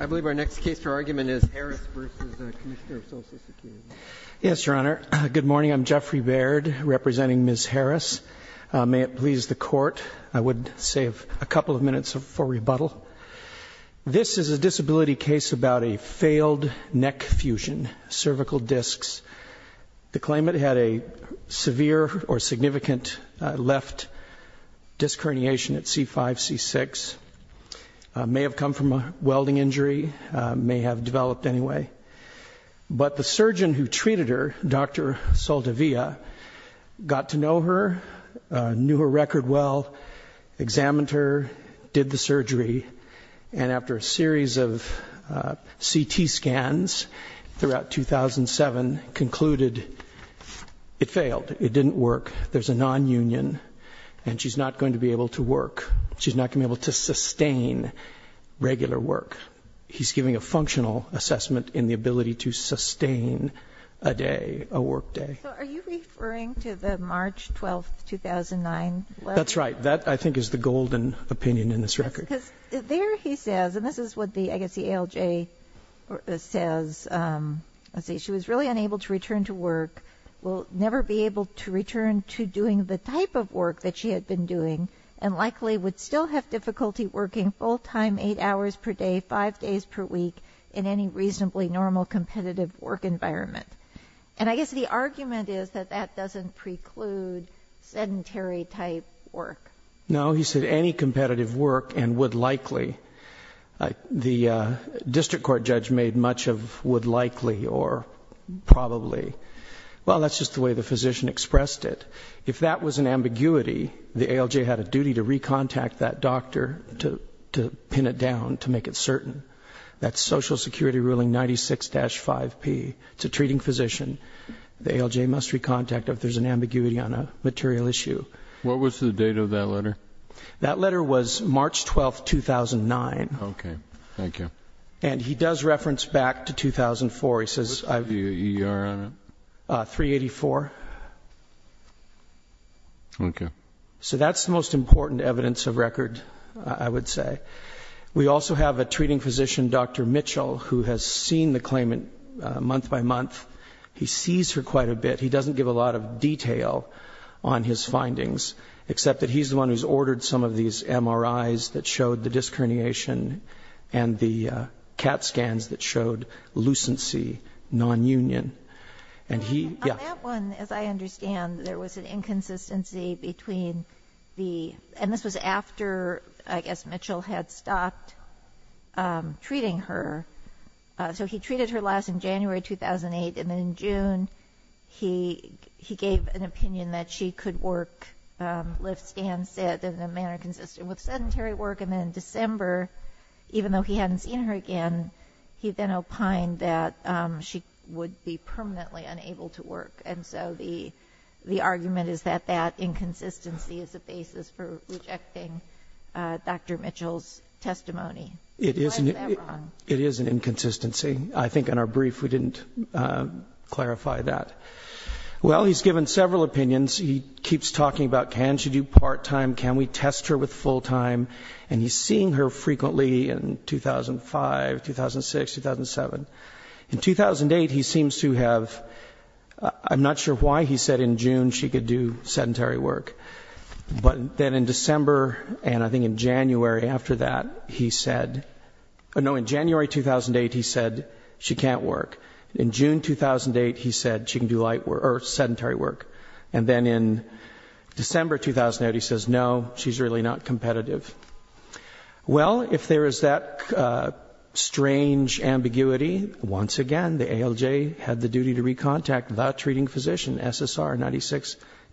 I believe our next case for argument is Harris v. Commissioner of Social Security. Yes, Your Honor. Good morning, I'm Jeffrey Baird, representing Ms. Harris. May it please the court, I would save a couple of minutes for rebuttal. This is a disability case about a failed neck fusion, cervical discs. The claimant had a severe or significant left disc herniation at C5, C6. May have come from a welding injury, may have developed anyway. But the surgeon who treated her, Dr. Saldivia, got to know her, knew her record well, examined her, did the surgery. And after a series of CT scans throughout 2007 concluded it failed. It didn't work. There's a non-union and she's not going to be able to work. She's not going to be able to sustain regular work. He's giving a functional assessment in the ability to sustain a day, a work day. So are you referring to the March 12th, 2009? That's right. That, I think, is the golden opinion in this record. Because there he says, and this is what the, I guess the ALJ says, let's see. She was really unable to return to work. Will never be able to return to doing the type of work that she had been doing. And likely would still have difficulty working full time, eight hours per day, five days per week, in any reasonably normal competitive work environment. And I guess the argument is that that doesn't preclude sedentary type work. No, he said any competitive work and would likely. The district court judge made much of would likely or probably. Well, that's just the way the physician expressed it. If that was an ambiguity, the ALJ had a duty to re-contact that doctor to pin it down to make it certain. That's Social Security ruling 96-5P, it's a treating physician. The ALJ must re-contact if there's an ambiguity on a material issue. What was the date of that letter? That letter was March 12th, 2009. Okay, thank you. And he does reference back to 2004, he says. What's the EER on it? 384. Okay. So that's the most important evidence of record, I would say. We also have a treating physician, Dr. Mitchell, who has seen the claimant month by month. He sees her quite a bit. He doesn't give a lot of detail on his findings, except that he's the one who's ordered some of these MRIs that showed the disc herniation. And the CAT scans that showed lucency, non-union. And he, yeah. On that one, as I understand, there was an inconsistency between the, and this was after, I guess, Mitchell had stopped treating her. So he treated her last in January 2008, and then in June, he gave an opinion that she could work, lift, stand, sit in a manner consistent with sedentary work. And then in December, even though he hadn't seen her again, he then opined that she would be permanently unable to work. And so the argument is that that inconsistency is a basis for rejecting Dr. Mitchell's testimony. What is that wrong? It is an inconsistency. I think in our brief, we didn't clarify that. Well, he's given several opinions. He keeps talking about, can she do part-time? Can we test her with full-time? And he's seeing her frequently in 2005, 2006, 2007. In 2008, he seems to have, I'm not sure why he said in June she could do sedentary work. But then in December, and I think in January after that, he said, no in January 2008, he said she can't work. In June 2008, he said she can do sedentary work. And then in December 2008, he says, no, she's really not competitive. Well, if there is that strange ambiguity, once again, the ALJ had the duty to recontact the treating physician, SSR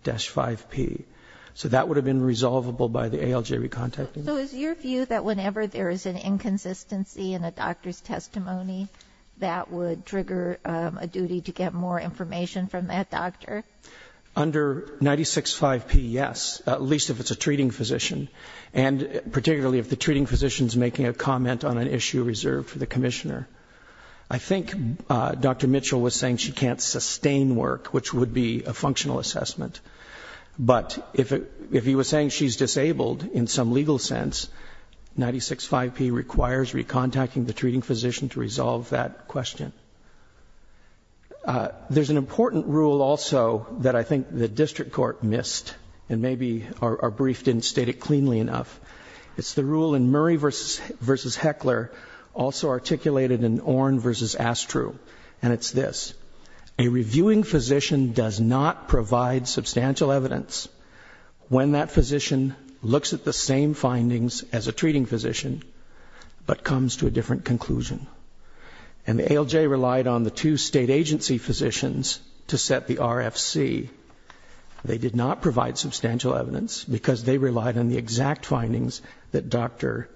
96-5P. So that would have been resolvable by the ALJ recontacting. So is your view that whenever there is an inconsistency in a doctor's testimony, that would trigger a duty to get more information from that doctor? Under 96-5P, yes, at least if it's a treating physician. And particularly if the treating physician's making a comment on an issue reserved for the commissioner. I think Dr. Mitchell was saying she can't sustain work, which would be a functional assessment. But if he was saying she's disabled in some legal sense, 96-5P requires recontacting the treating physician to resolve that question. There's an important rule also that I think the district court missed, and maybe our brief didn't state it cleanly enough. It's the rule in Murray versus Heckler, also articulated in Orne versus Astru. And it's this, a reviewing physician does not provide substantial evidence when that physician looks at the same findings as a treating physician, but comes to a different conclusion. And the ALJ relied on the two state agency physicians to set the RFC. They did not provide substantial evidence because they relied on the exact findings that Dr.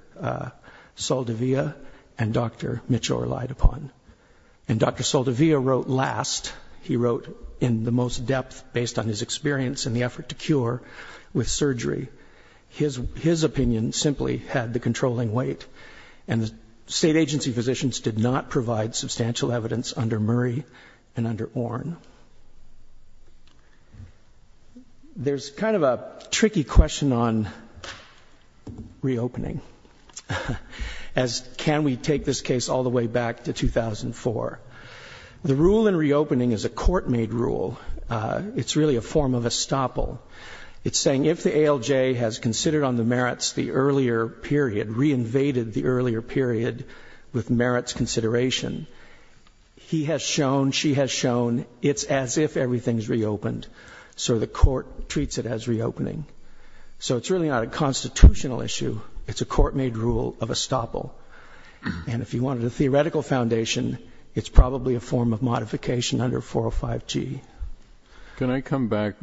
Saldivia and Dr. Mitchell relied upon. And Dr. Saldivia wrote last, he wrote in the most depth based on his experience in the effort to cure with surgery. His opinion simply had the controlling weight. And the state agency physicians did not provide substantial evidence under Murray and under Orne. There's kind of a tricky question on reopening. As can we take this case all the way back to 2004? The rule in reopening is a court made rule, it's really a form of estoppel. It's saying if the ALJ has considered on the merits the earlier period, reinvaded the earlier period with merits consideration, he has shown, she has shown, it's as if everything's reopened, so the court treats it as reopening. So it's really not a constitutional issue, it's a court made rule of estoppel. And if you wanted a theoretical foundation, it's probably a form of modification under 405G. Can I come back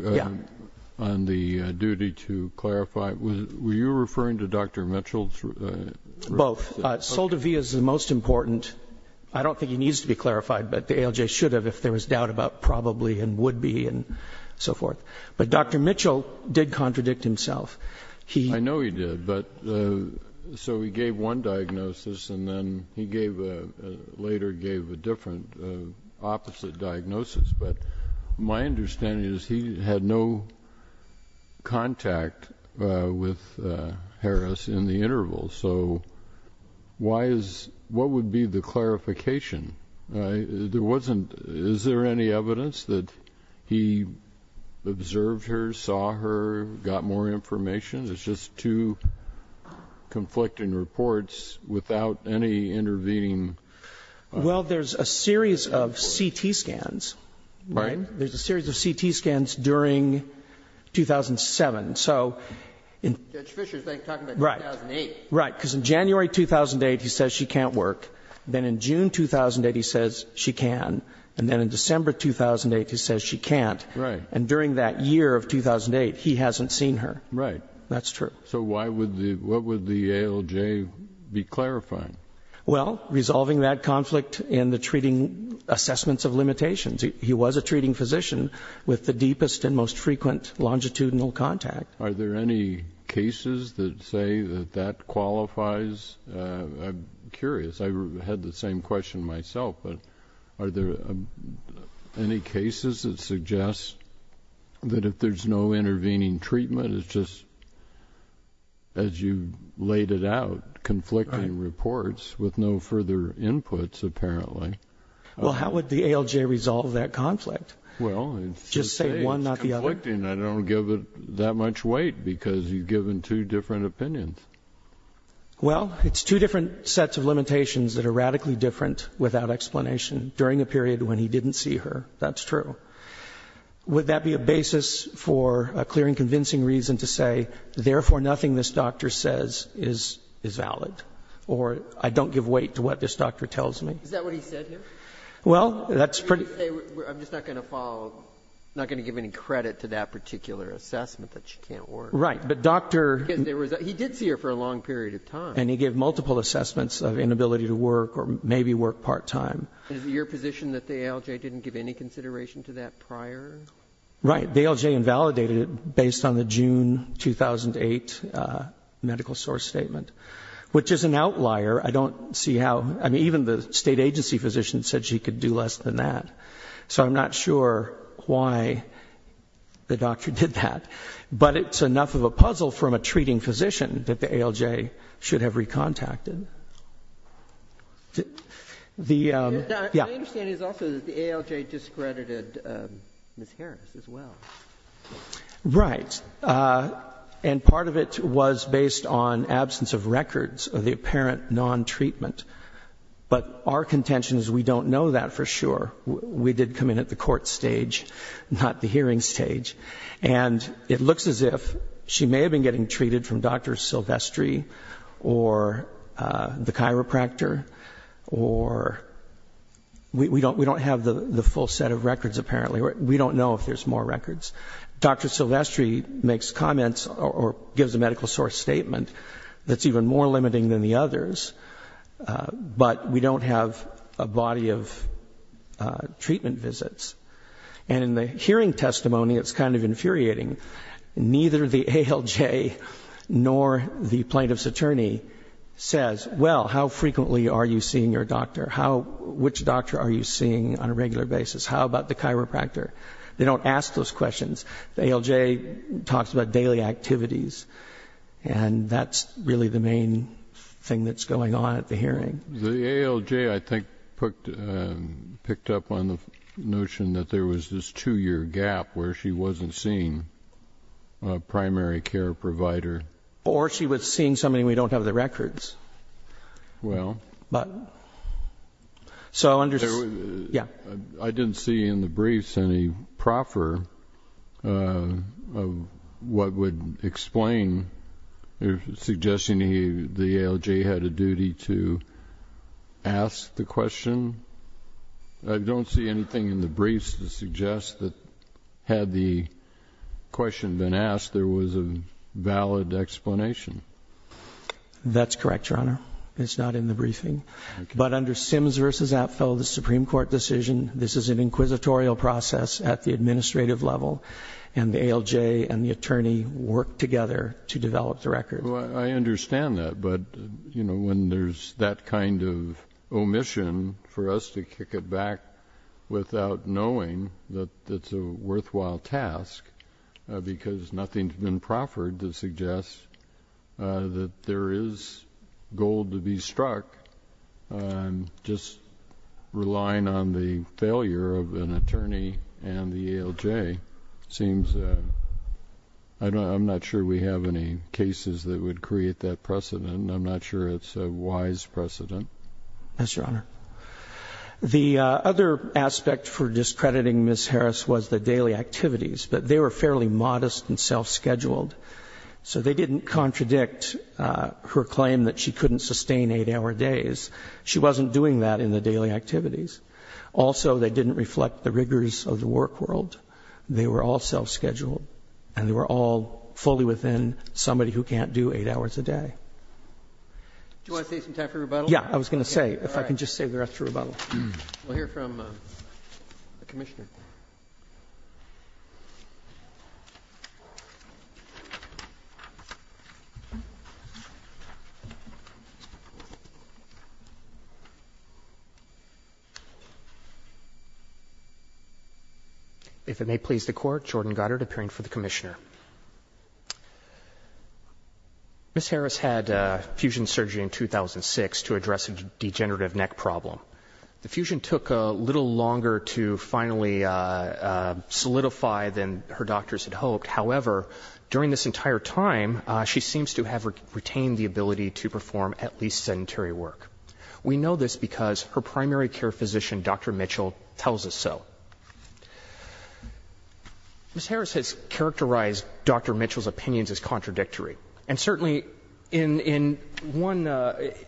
on the duty to clarify, were you referring to Dr. Mitchell's- Both, Saldivia's the most important, I don't think he needs to be clarified, but the ALJ should have if there was doubt about probably and would be and so forth. But Dr. Mitchell did contradict himself. He- I know he did, but so he gave one diagnosis and then he later gave a different, opposite diagnosis. But my understanding is he had no contact with Harris in the interval. So what would be the clarification? There wasn't, is there any evidence that he observed her, saw her, got more information? It's just two conflicting reports without any intervening- Well, there's a series of CT scans, right? There's a series of CT scans during 2007, so in- Judge Fisher's talking about 2008. Right, because in January 2008, he says she can't work. Then in June 2008, he says she can. And then in December 2008, he says she can't. Right. And during that year of 2008, he hasn't seen her. Right. That's true. So why would the, what would the ALJ be clarifying? Well, resolving that conflict in the treating assessments of limitations. He was a treating physician with the deepest and most frequent longitudinal contact. Are there any cases that say that that qualifies? I'm curious. I had the same question myself, but are there any cases that suggest that if there's no intervening treatment, it's just, as you laid it out, conflicting reports with no further inputs, apparently. Well, how would the ALJ resolve that conflict? Well, it's just- Just say one, not the other. It's conflicting. I don't give it that much weight because you've given two different opinions. Well, it's two different sets of limitations that are radically different without explanation during a period when he didn't see her. That's true. Would that be a basis for a clear and convincing reason to say, therefore, nothing this doctor says is valid? Or I don't give weight to what this doctor tells me. Is that what he said here? Well, that's pretty- I'm just not going to follow, not going to give any credit to that particular assessment that she can't work. Right. But doctor- Because he did see her for a long period of time. And he gave multiple assessments of inability to work or maybe work part time. Is it your position that the ALJ didn't give any consideration to that prior? Right, the ALJ invalidated it based on the June 2008 medical source statement, which is an outlier. I don't see how, I mean, even the state agency physician said she could do less than that. So I'm not sure why the doctor did that. But it's enough of a puzzle from a treating physician that the ALJ should have recontacted. The- My understanding is also that the ALJ discredited Ms. Harris as well. Right. And part of it was based on absence of records of the apparent non-treatment. But our contention is we don't know that for sure. We did come in at the court stage, not the hearing stage. And it looks as if she may have been getting treated from Dr. Silvestri or the chiropractor. Or we don't have the full set of records apparently. We don't know if there's more records. Dr. Silvestri makes comments or gives a medical source statement that's even more limiting than the others. But we don't have a body of treatment visits. And in the hearing testimony, it's kind of infuriating. Neither the ALJ nor the plaintiff's attorney says, well, how frequently are you seeing your doctor? Which doctor are you seeing on a regular basis? How about the chiropractor? They don't ask those questions. The ALJ talks about daily activities. And that's really the main thing that's going on at the hearing. The ALJ, I think, picked up on the notion that there was this two-year gap where she wasn't seeing a primary care provider. Or she was seeing somebody we don't have the records. Well, I didn't see in the briefs any proffer of what would explain suggesting the ALJ had a duty to ask the question. I don't see anything in the briefs to suggest that had the question been asked, there was a valid explanation. That's correct, your honor. It's not in the briefing. But under Sims versus Apfel, the Supreme Court decision, this is an inquisitorial process at the administrative level. And the ALJ and the attorney work together to develop the record. I understand that, but when there's that kind of omission for us to kick it back without knowing that it's a worthwhile task. Because nothing's been proffered to suggest that there is gold to be struck. I'm just relying on the failure of an attorney and the ALJ. Seems, I'm not sure we have any cases that would create that precedent. I'm not sure it's a wise precedent. Yes, your honor. The other aspect for discrediting Ms. Harris was the daily activities. But they were fairly modest and self-scheduled. So they didn't contradict her claim that she couldn't sustain eight hour days. She wasn't doing that in the daily activities. Also, they didn't reflect the rigors of the work world. They were all self-scheduled. And they were all fully within somebody who can't do eight hours a day. Do you want to save some time for rebuttal? Yeah, I was going to say, if I can just save the rest for rebuttal. We'll hear from the commissioner. If it may please the court, Jordan Goddard, appearing for the commissioner. Ms. Harris had fusion surgery in 2006 to address a degenerative neck problem. The fusion took a little longer to finally solidify than her doctors had hoped. However, during this entire time, she seems to have retained the ability to perform at least sedentary work. We know this because her primary care physician, Dr. Mitchell, tells us so. Ms. Harris has characterized Dr. Mitchell's opinions as contradictory. And certainly, in one,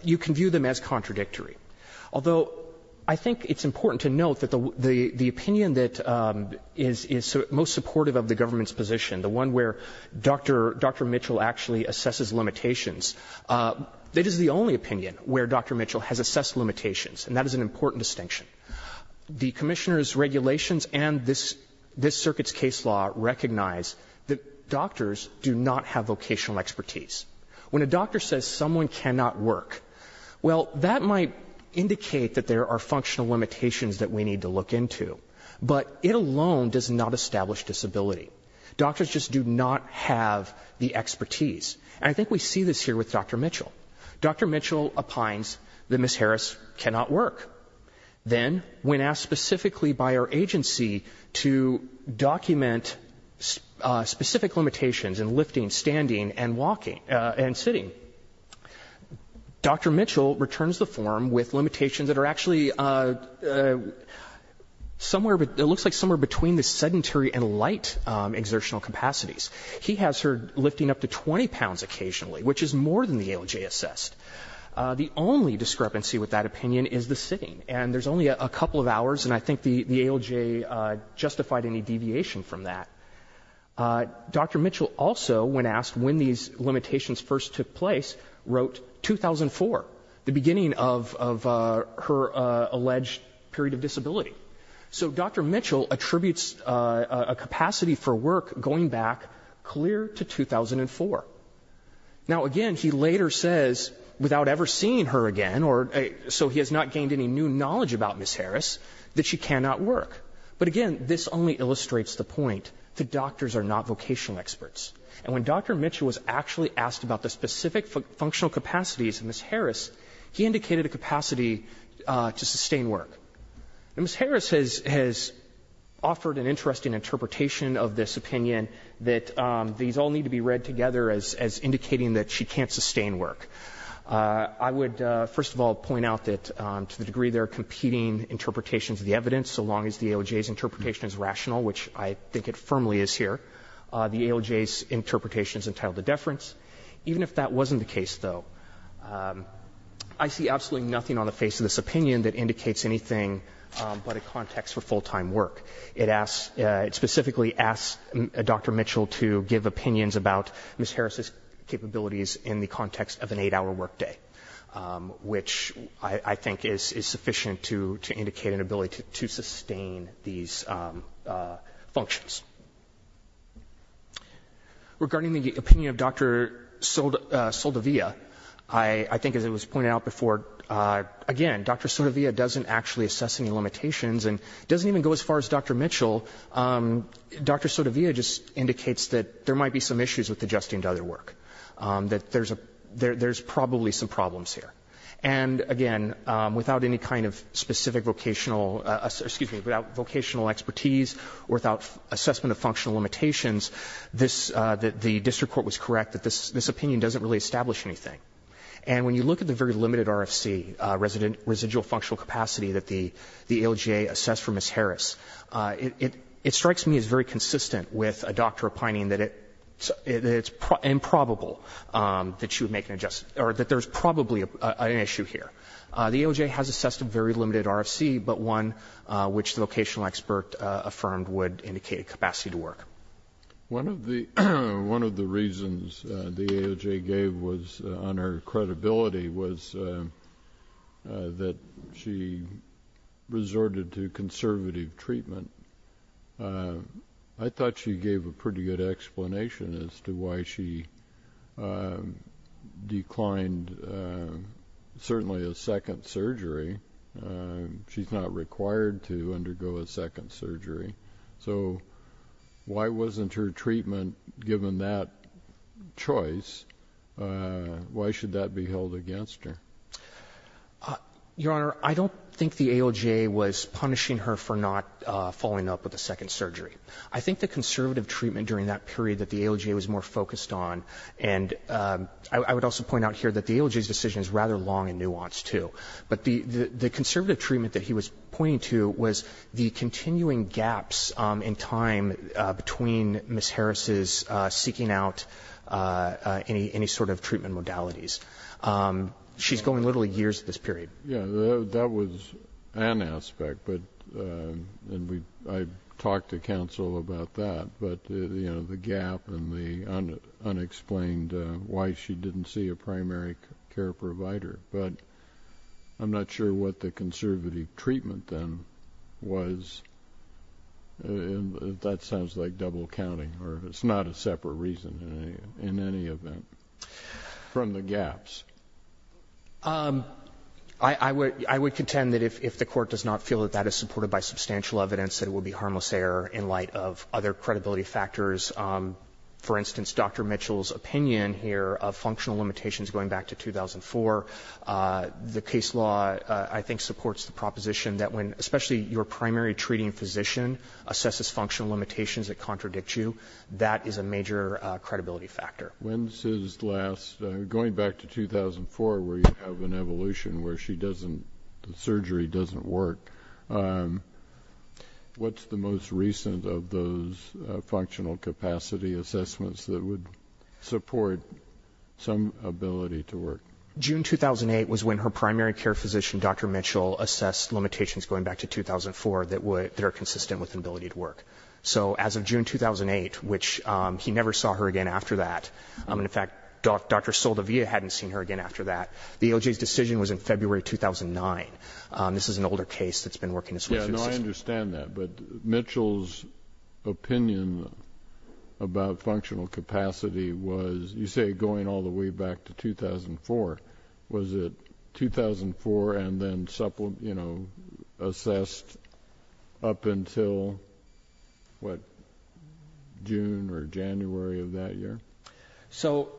you can view them as contradictory. Although, I think it's important to note that the opinion that is most supportive of the government's position, the one where Dr. Mitchell actually assesses limitations, that is the only opinion where Dr. Mitchell has assessed limitations, and that is an important distinction. The commissioner's regulations and this circuit's case law recognize that doctors do not have vocational expertise. When a doctor says someone cannot work, well, that might indicate that there are functional limitations that we need to look into. But it alone does not establish disability. Doctors just do not have the expertise. And I think we see this here with Dr. Mitchell. Dr. Mitchell opines that Ms. Harris cannot work. Then, when asked specifically by our agency to document specific limitations in lifting, standing, and walking, and sitting, Dr. Mitchell returns the form with limitations that are actually somewhere, it looks like somewhere between the sedentary and light exertional capacities. He has her lifting up to 20 pounds occasionally, which is more than the ALJ assessed. The only discrepancy with that opinion is the sitting. And there's only a couple of hours, and I think the ALJ justified any deviation from that. Dr. Mitchell also, when asked when these limitations first took place, wrote 2004, the beginning of her alleged period of disability. So Dr. Mitchell attributes a capacity for work going back clear to 2004. Now again, he later says, without ever seeing her again, or so he has not gained any new knowledge about Ms. Harris, that she cannot work. But again, this only illustrates the point that doctors are not vocational experts. And when Dr. Mitchell was actually asked about the specific functional capacities of Ms. Harris, he indicated a capacity to sustain work. And Ms. Harris has offered an interesting interpretation of this opinion that these all need to be read together as indicating that she can't sustain work. I would first of all point out that to the degree they're competing interpretations of the evidence, so long as the ALJ's interpretation is rational, which I think it firmly is here, the ALJ's interpretation is entitled to deference. Even if that wasn't the case, though, I see absolutely nothing on the face of this opinion that indicates anything but a context for full-time work. It specifically asks Dr. Mitchell to give opinions about Ms. Harris's capabilities in the context of an eight-hour workday, which I think is sufficient to indicate an ability to sustain these functions. Regarding the opinion of Dr. Sotovia, I think as it was pointed out before, again, Dr. Sotovia doesn't actually assess any limitations and doesn't even go as far as Dr. Mitchell. Dr. Sotovia just indicates that there might be some issues with adjusting to other work, that there's probably some problems here. And again, without any kind of specific vocational, excuse me, without vocational expertise or without assessment of functional limitations, the district court was correct that this opinion doesn't really establish anything. And when you look at the very limited RFC, residual functional capacity that the ALJ assessed for Ms. Harris, it strikes me as very consistent with a doctor opining that it's improbable that she would make an adjustment, or that there's probably an issue here. The ALJ has assessed a very limited RFC, but one which the vocational expert affirmed would indicate a capacity to work. One of the reasons the ALJ gave was on her credibility was that she resorted to conservative treatment. I thought she gave a pretty good explanation as to why she declined, certainly a second surgery. She's not required to undergo a second surgery. So, why wasn't her treatment given that choice? Why should that be held against her? Your Honor, I don't think the ALJ was punishing her for not following up with a second surgery. I think the conservative treatment during that period that the ALJ was more focused on, and I would also point out here that the ALJ's decision is rather long and nuanced too. But the conservative treatment that he was pointing to was the continuing gaps in time between Ms. Harris's seeking out any sort of treatment modalities. She's going literally years at this period. Yeah, that was an aspect, and I talked to counsel about that, but the gap and the unexplained why she didn't see a primary care provider. But I'm not sure what the conservative treatment then was. That sounds like double counting, or it's not a separate reason in any event from the gaps. I would contend that if the Court does not feel that that is supported by substantial evidence, that it would be harmless error in light of other credibility factors. For instance, Dr. Mitchell's opinion here of functional limitations going back to 2004, the case law I think supports the proposition that when especially your primary treating physician assesses functional limitations that contradict you, that is a major credibility factor. When's his last? Going back to 2004 where you have an evolution where the surgery doesn't work, what's the most recent of those functional capacity assessments that would support some ability to work? June 2008 was when her primary care physician, Dr. Mitchell, assessed limitations going back to 2004 that are consistent with the ability to work. So as of June 2008, which he never saw her again after that, and in fact Dr. Saldivia hadn't seen her again after that, the ALJ's decision was in February 2009. This is an older case that's been working this way since then. Yeah, no, I understand that, but Mitchell's opinion about functional capacity was, you say going all the way back to 2004. Was it 2004 and then assessed up until what, June or January of that year? So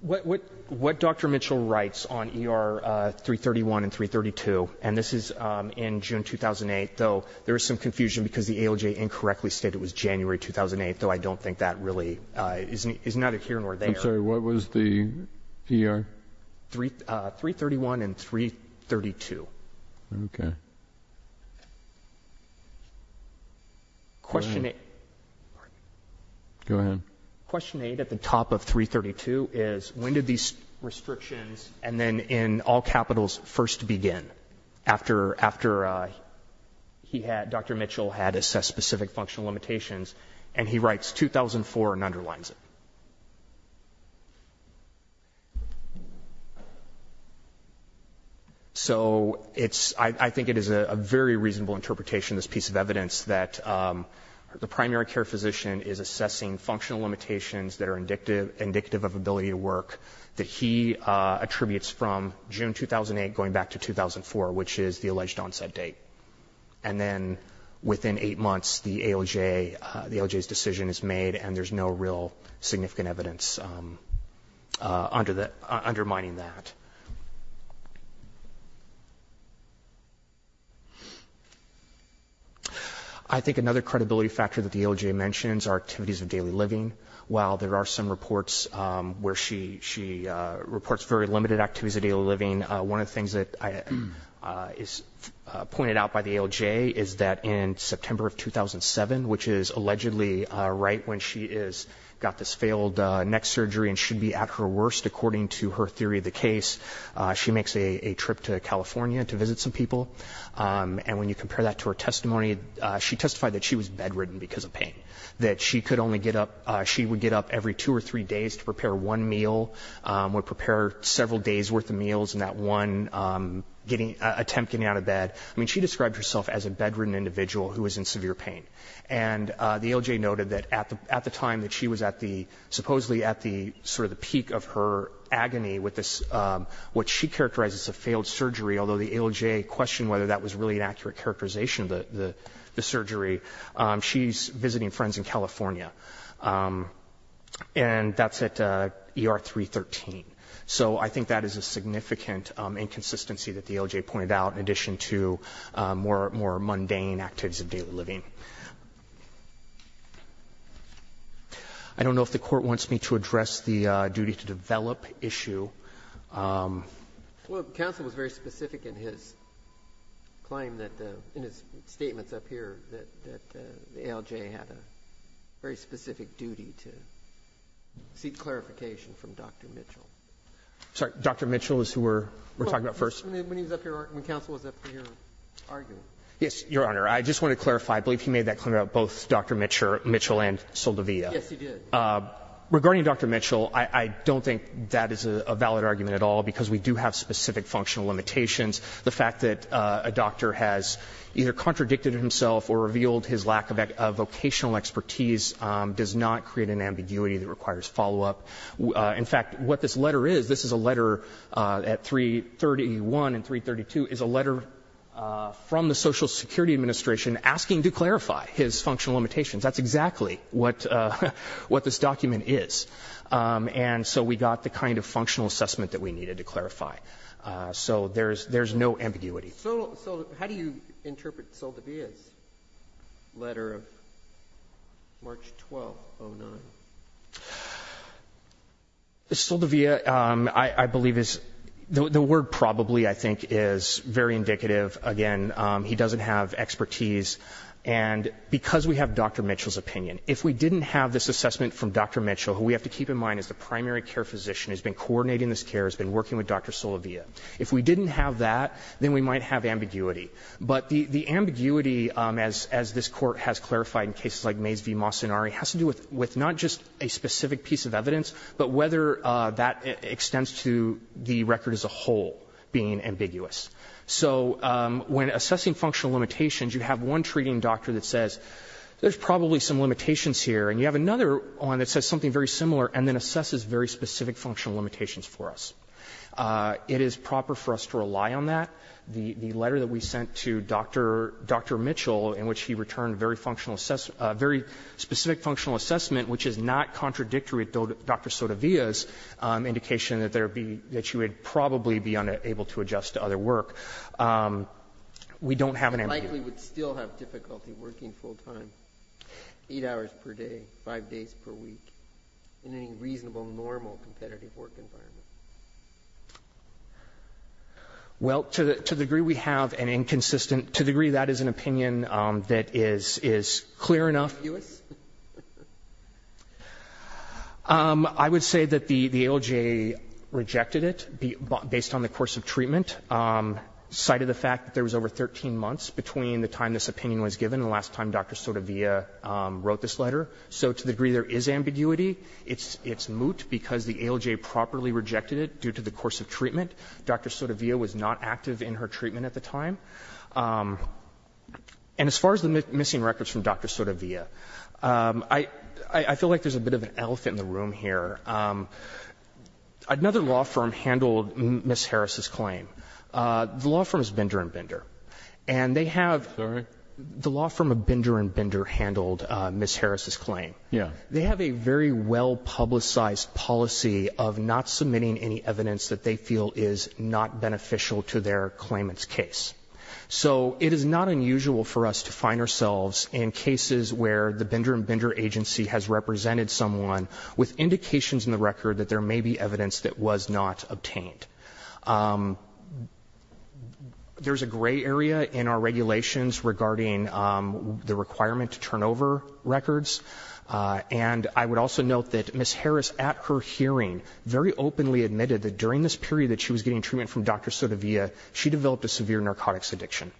what Dr. Mitchell writes on ER 331 and 332, and this is in June 2008, though there is some confusion because the ALJ incorrectly stated it was January 2008, though I don't think that really is neither here nor there. I'm sorry, what was the ER? 331 and 332. Okay. Question 8. Go ahead. Question 8 at the top of 332 is when did these restrictions and then in all capitals first begin, after Dr. Mitchell had assessed specific functional limitations, and he writes 2004 and underlines it. So I think it is a very reasonable interpretation, this piece of evidence that the primary care physician is assessing functional limitations that are indicative of ability to work that he attributes from June 2008 going back to 2004, which is the alleged onset date. And then within eight months the ALJ's decision is made and there's no real significant evidence undermining that. I think another credibility factor that the ALJ mentions are activities of daily living. While there are some reports where she reports very limited activities of daily living, one of the things that is pointed out by the ALJ is that in September of 2007, which is allegedly right when she got this failed neck surgery and should be at her worst, according to her theory of the case, she makes a trip to California to visit some people. And when you compare that to her testimony, she testified that she was bedridden because of pain, that she would get up every two or three days to prepare one meal, would prepare several days' worth of meals in that one attempt getting out of bed. I mean, she described herself as a bedridden individual who was in severe pain. And the ALJ noted that at the time that she was at the supposedly at the sort of the peak of her agony with this, what she characterized as a failed surgery, although the ALJ questioned whether that was really an accurate characterization of the surgery, she's visiting friends in California. And that's at ER 313. So I think that is a significant inconsistency that the ALJ pointed out, in addition to more mundane activities of daily living. I don't know if the Court wants me to address the duty to develop issue. Well, the counsel was very specific in his claim that the, in his statements up here, that the ALJ had a very specific duty to seek clarification from Dr. Mitchell. I'm sorry. Dr. Mitchell is who we're talking about first? When he was up here, when counsel was up here arguing. Yes, Your Honor. I just want to clarify. I believe he made that claim about both Dr. Mitchell and Saldivia. Yes, he did. Regarding Dr. Mitchell, I don't think that is a valid argument at all, because we do have specific functional limitations. The fact that a doctor has either contradicted himself or revealed his lack of vocational expertise does not create an ambiguity that requires follow-up. In fact, what this letter is, this is a letter at 331 and 332, is a letter from the Social Security Administration asking to clarify his functional limitations. That's exactly what this document is. And so we got the kind of functional assessment that we needed to clarify. So there's no ambiguity. So how do you interpret Saldivia's letter of March 12, 2009? Saldivia, I believe, the word probably, I think, is very indicative. Again, he doesn't have expertise. And because we have Dr. Mitchell's opinion, if we didn't have this assessment from Dr. Mitchell, who we have to keep in mind is the primary care physician, who has been coordinating this care, has been working with Dr. Saldivia, if we didn't have that, then we might have ambiguity. But the ambiguity, as this Court has clarified in cases like Mays v. Mocenari, has to do with not just a specific piece of evidence, but whether that extends to the record as a whole being ambiguous. So when assessing functional limitations, you have one treating doctor that says there's probably some limitations here, and you have another one that says something very similar and then assesses very specific functional limitations for us. It is proper for us to rely on that. The letter that we sent to Dr. Mitchell, in which he returned a very specific functional assessment, which is not contradictory to Dr. Saldivia's indication that you would probably be unable to adjust to other work. We don't have an ambiguity. You likely would still have difficulty working full-time, eight hours per day, five days per week, in any reasonable, normal competitive work environment. Well, to the degree we have an inconsistent, to the degree that is an opinion that is clear enough. I would say that the ALJ rejected it, based on the course of treatment, and cited the fact that there was over 13 months between the time this opinion was given and the last time Dr. Saldivia wrote this letter. So to the degree there is ambiguity, it's moot because the ALJ properly rejected it due to the course of treatment. Dr. Saldivia was not active in her treatment at the time. And as far as the missing records from Dr. Saldivia, I feel like there's a bit of an elephant in the room here. Another law firm handled Ms. Harris' claim. The law firm is Binder and Binder. And they have the law firm of Binder and Binder handled Ms. Harris' claim. They have a very well-publicized policy of not submitting any evidence that they feel is not beneficial to their claimant's case. So it is not unusual for us to find ourselves in cases where the Binder and Binder agency has represented someone with indications in the record that there may be evidence that was not obtained. There's a gray area in our regulations regarding the requirement to turn over records. And I would also note that Ms. Harris at her hearing very openly admitted that during this period that she was getting treatment from Dr. Saldivia, she developed a severe narcotics addiction.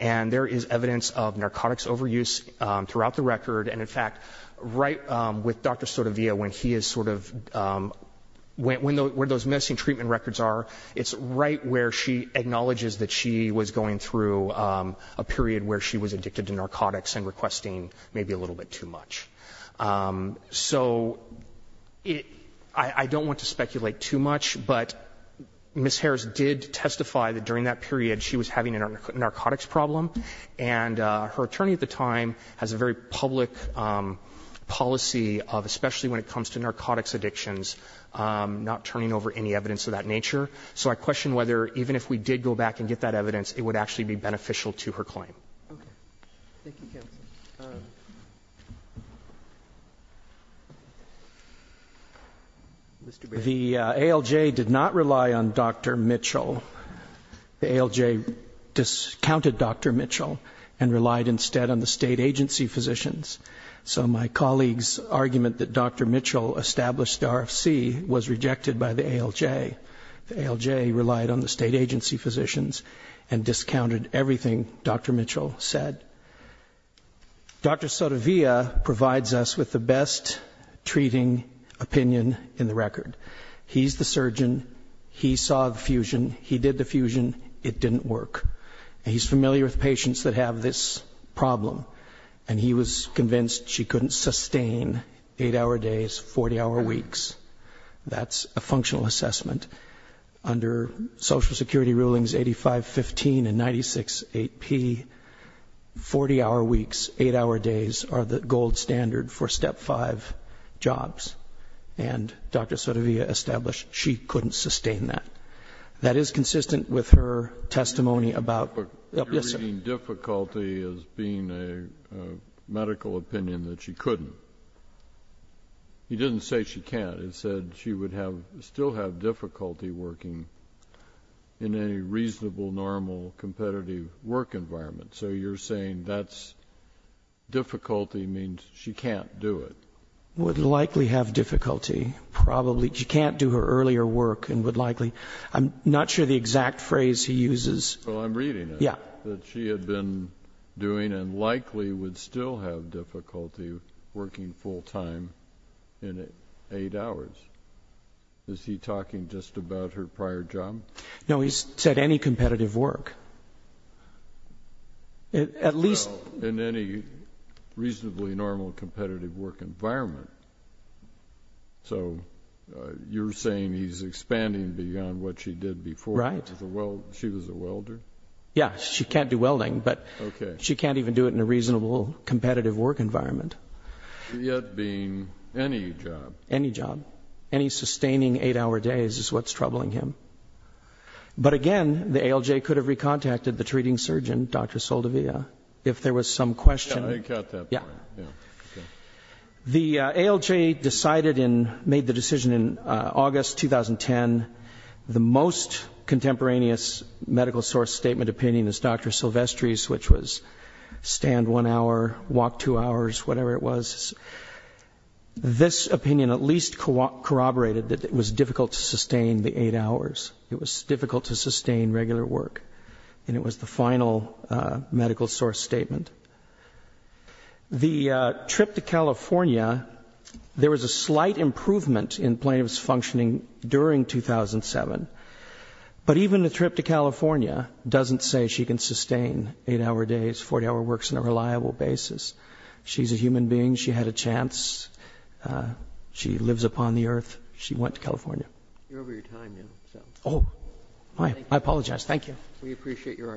And there is evidence of narcotics overuse throughout the record. And, in fact, right with Dr. Saldivia, where those missing treatment records are, it's right where she acknowledges that she was going through a period where she was addicted to narcotics and requesting maybe a little bit too much. So I don't want to speculate too much, but Ms. Harris did testify that during that period she was having a narcotics problem. And her attorney at the time has a very public policy of, especially when it comes to narcotics addictions, not turning over any evidence of that nature. So I question whether even if we did go back and get that evidence, it would actually be beneficial to her claim. Okay. Thank you, counsel. Mr. Bailey. The ALJ did not rely on Dr. Mitchell. The ALJ discounted Dr. Mitchell and relied instead on the state agency physicians. So my colleague's argument that Dr. Mitchell established the RFC was rejected by the ALJ. The ALJ relied on the state agency physicians and discounted everything Dr. Mitchell said. Dr. Saldivia provides us with the best treating opinion in the record. He's the surgeon. He saw the fusion. He did the fusion. It didn't work. He's familiar with patients that have this problem, and he was convinced she couldn't sustain eight-hour days, 40-hour weeks. That's a functional assessment. Under Social Security rulings 8515 and 96AP, 40-hour weeks, eight-hour days are the gold standard for Step 5 jobs. And Dr. Saldivia established she couldn't sustain that. That is consistent with her testimony about the BSA. But you're reading difficulty as being a medical opinion that she couldn't. He didn't say she can't. He said she would have to still have difficulty working in a reasonable, normal, competitive work environment. So you're saying that's difficulty means she can't do it. Would likely have difficulty, probably. She can't do her earlier work and would likely. I'm not sure the exact phrase he uses. Well, I'm reading it. Yeah. That she had been doing and likely would still have difficulty working full-time in eight hours. Is he talking just about her prior job? No, he said any competitive work. Well, in any reasonably normal competitive work environment. So you're saying he's expanding beyond what she did before. Right. She was a welder. Yeah, she can't do welding, but she can't even do it in a reasonable competitive work environment. Yet being any job. Any job. Any sustaining eight-hour days is what's troubling him. But, again, the ALJ could have re-contacted the treating surgeon, Dr. Soldovia, if there was some question. Yeah, I got that point. Yeah. The ALJ decided and made the decision in August 2010, the most contemporaneous medical source statement opinion is Dr. Silvestri's, which was stand one hour, walk two hours, whatever it was. This opinion at least corroborated that it was difficult to sustain the eight hours. It was difficult to sustain regular work. And it was the final medical source statement. The trip to California, there was a slight improvement in plaintiff's functioning during 2007. But even the trip to California doesn't say she can sustain eight-hour days, 40-hour works on a reliable basis. She's a human being. She had a chance. She lives upon the earth. She went to California. You're over your time now. Oh. I apologize. Thank you. We appreciate your argument.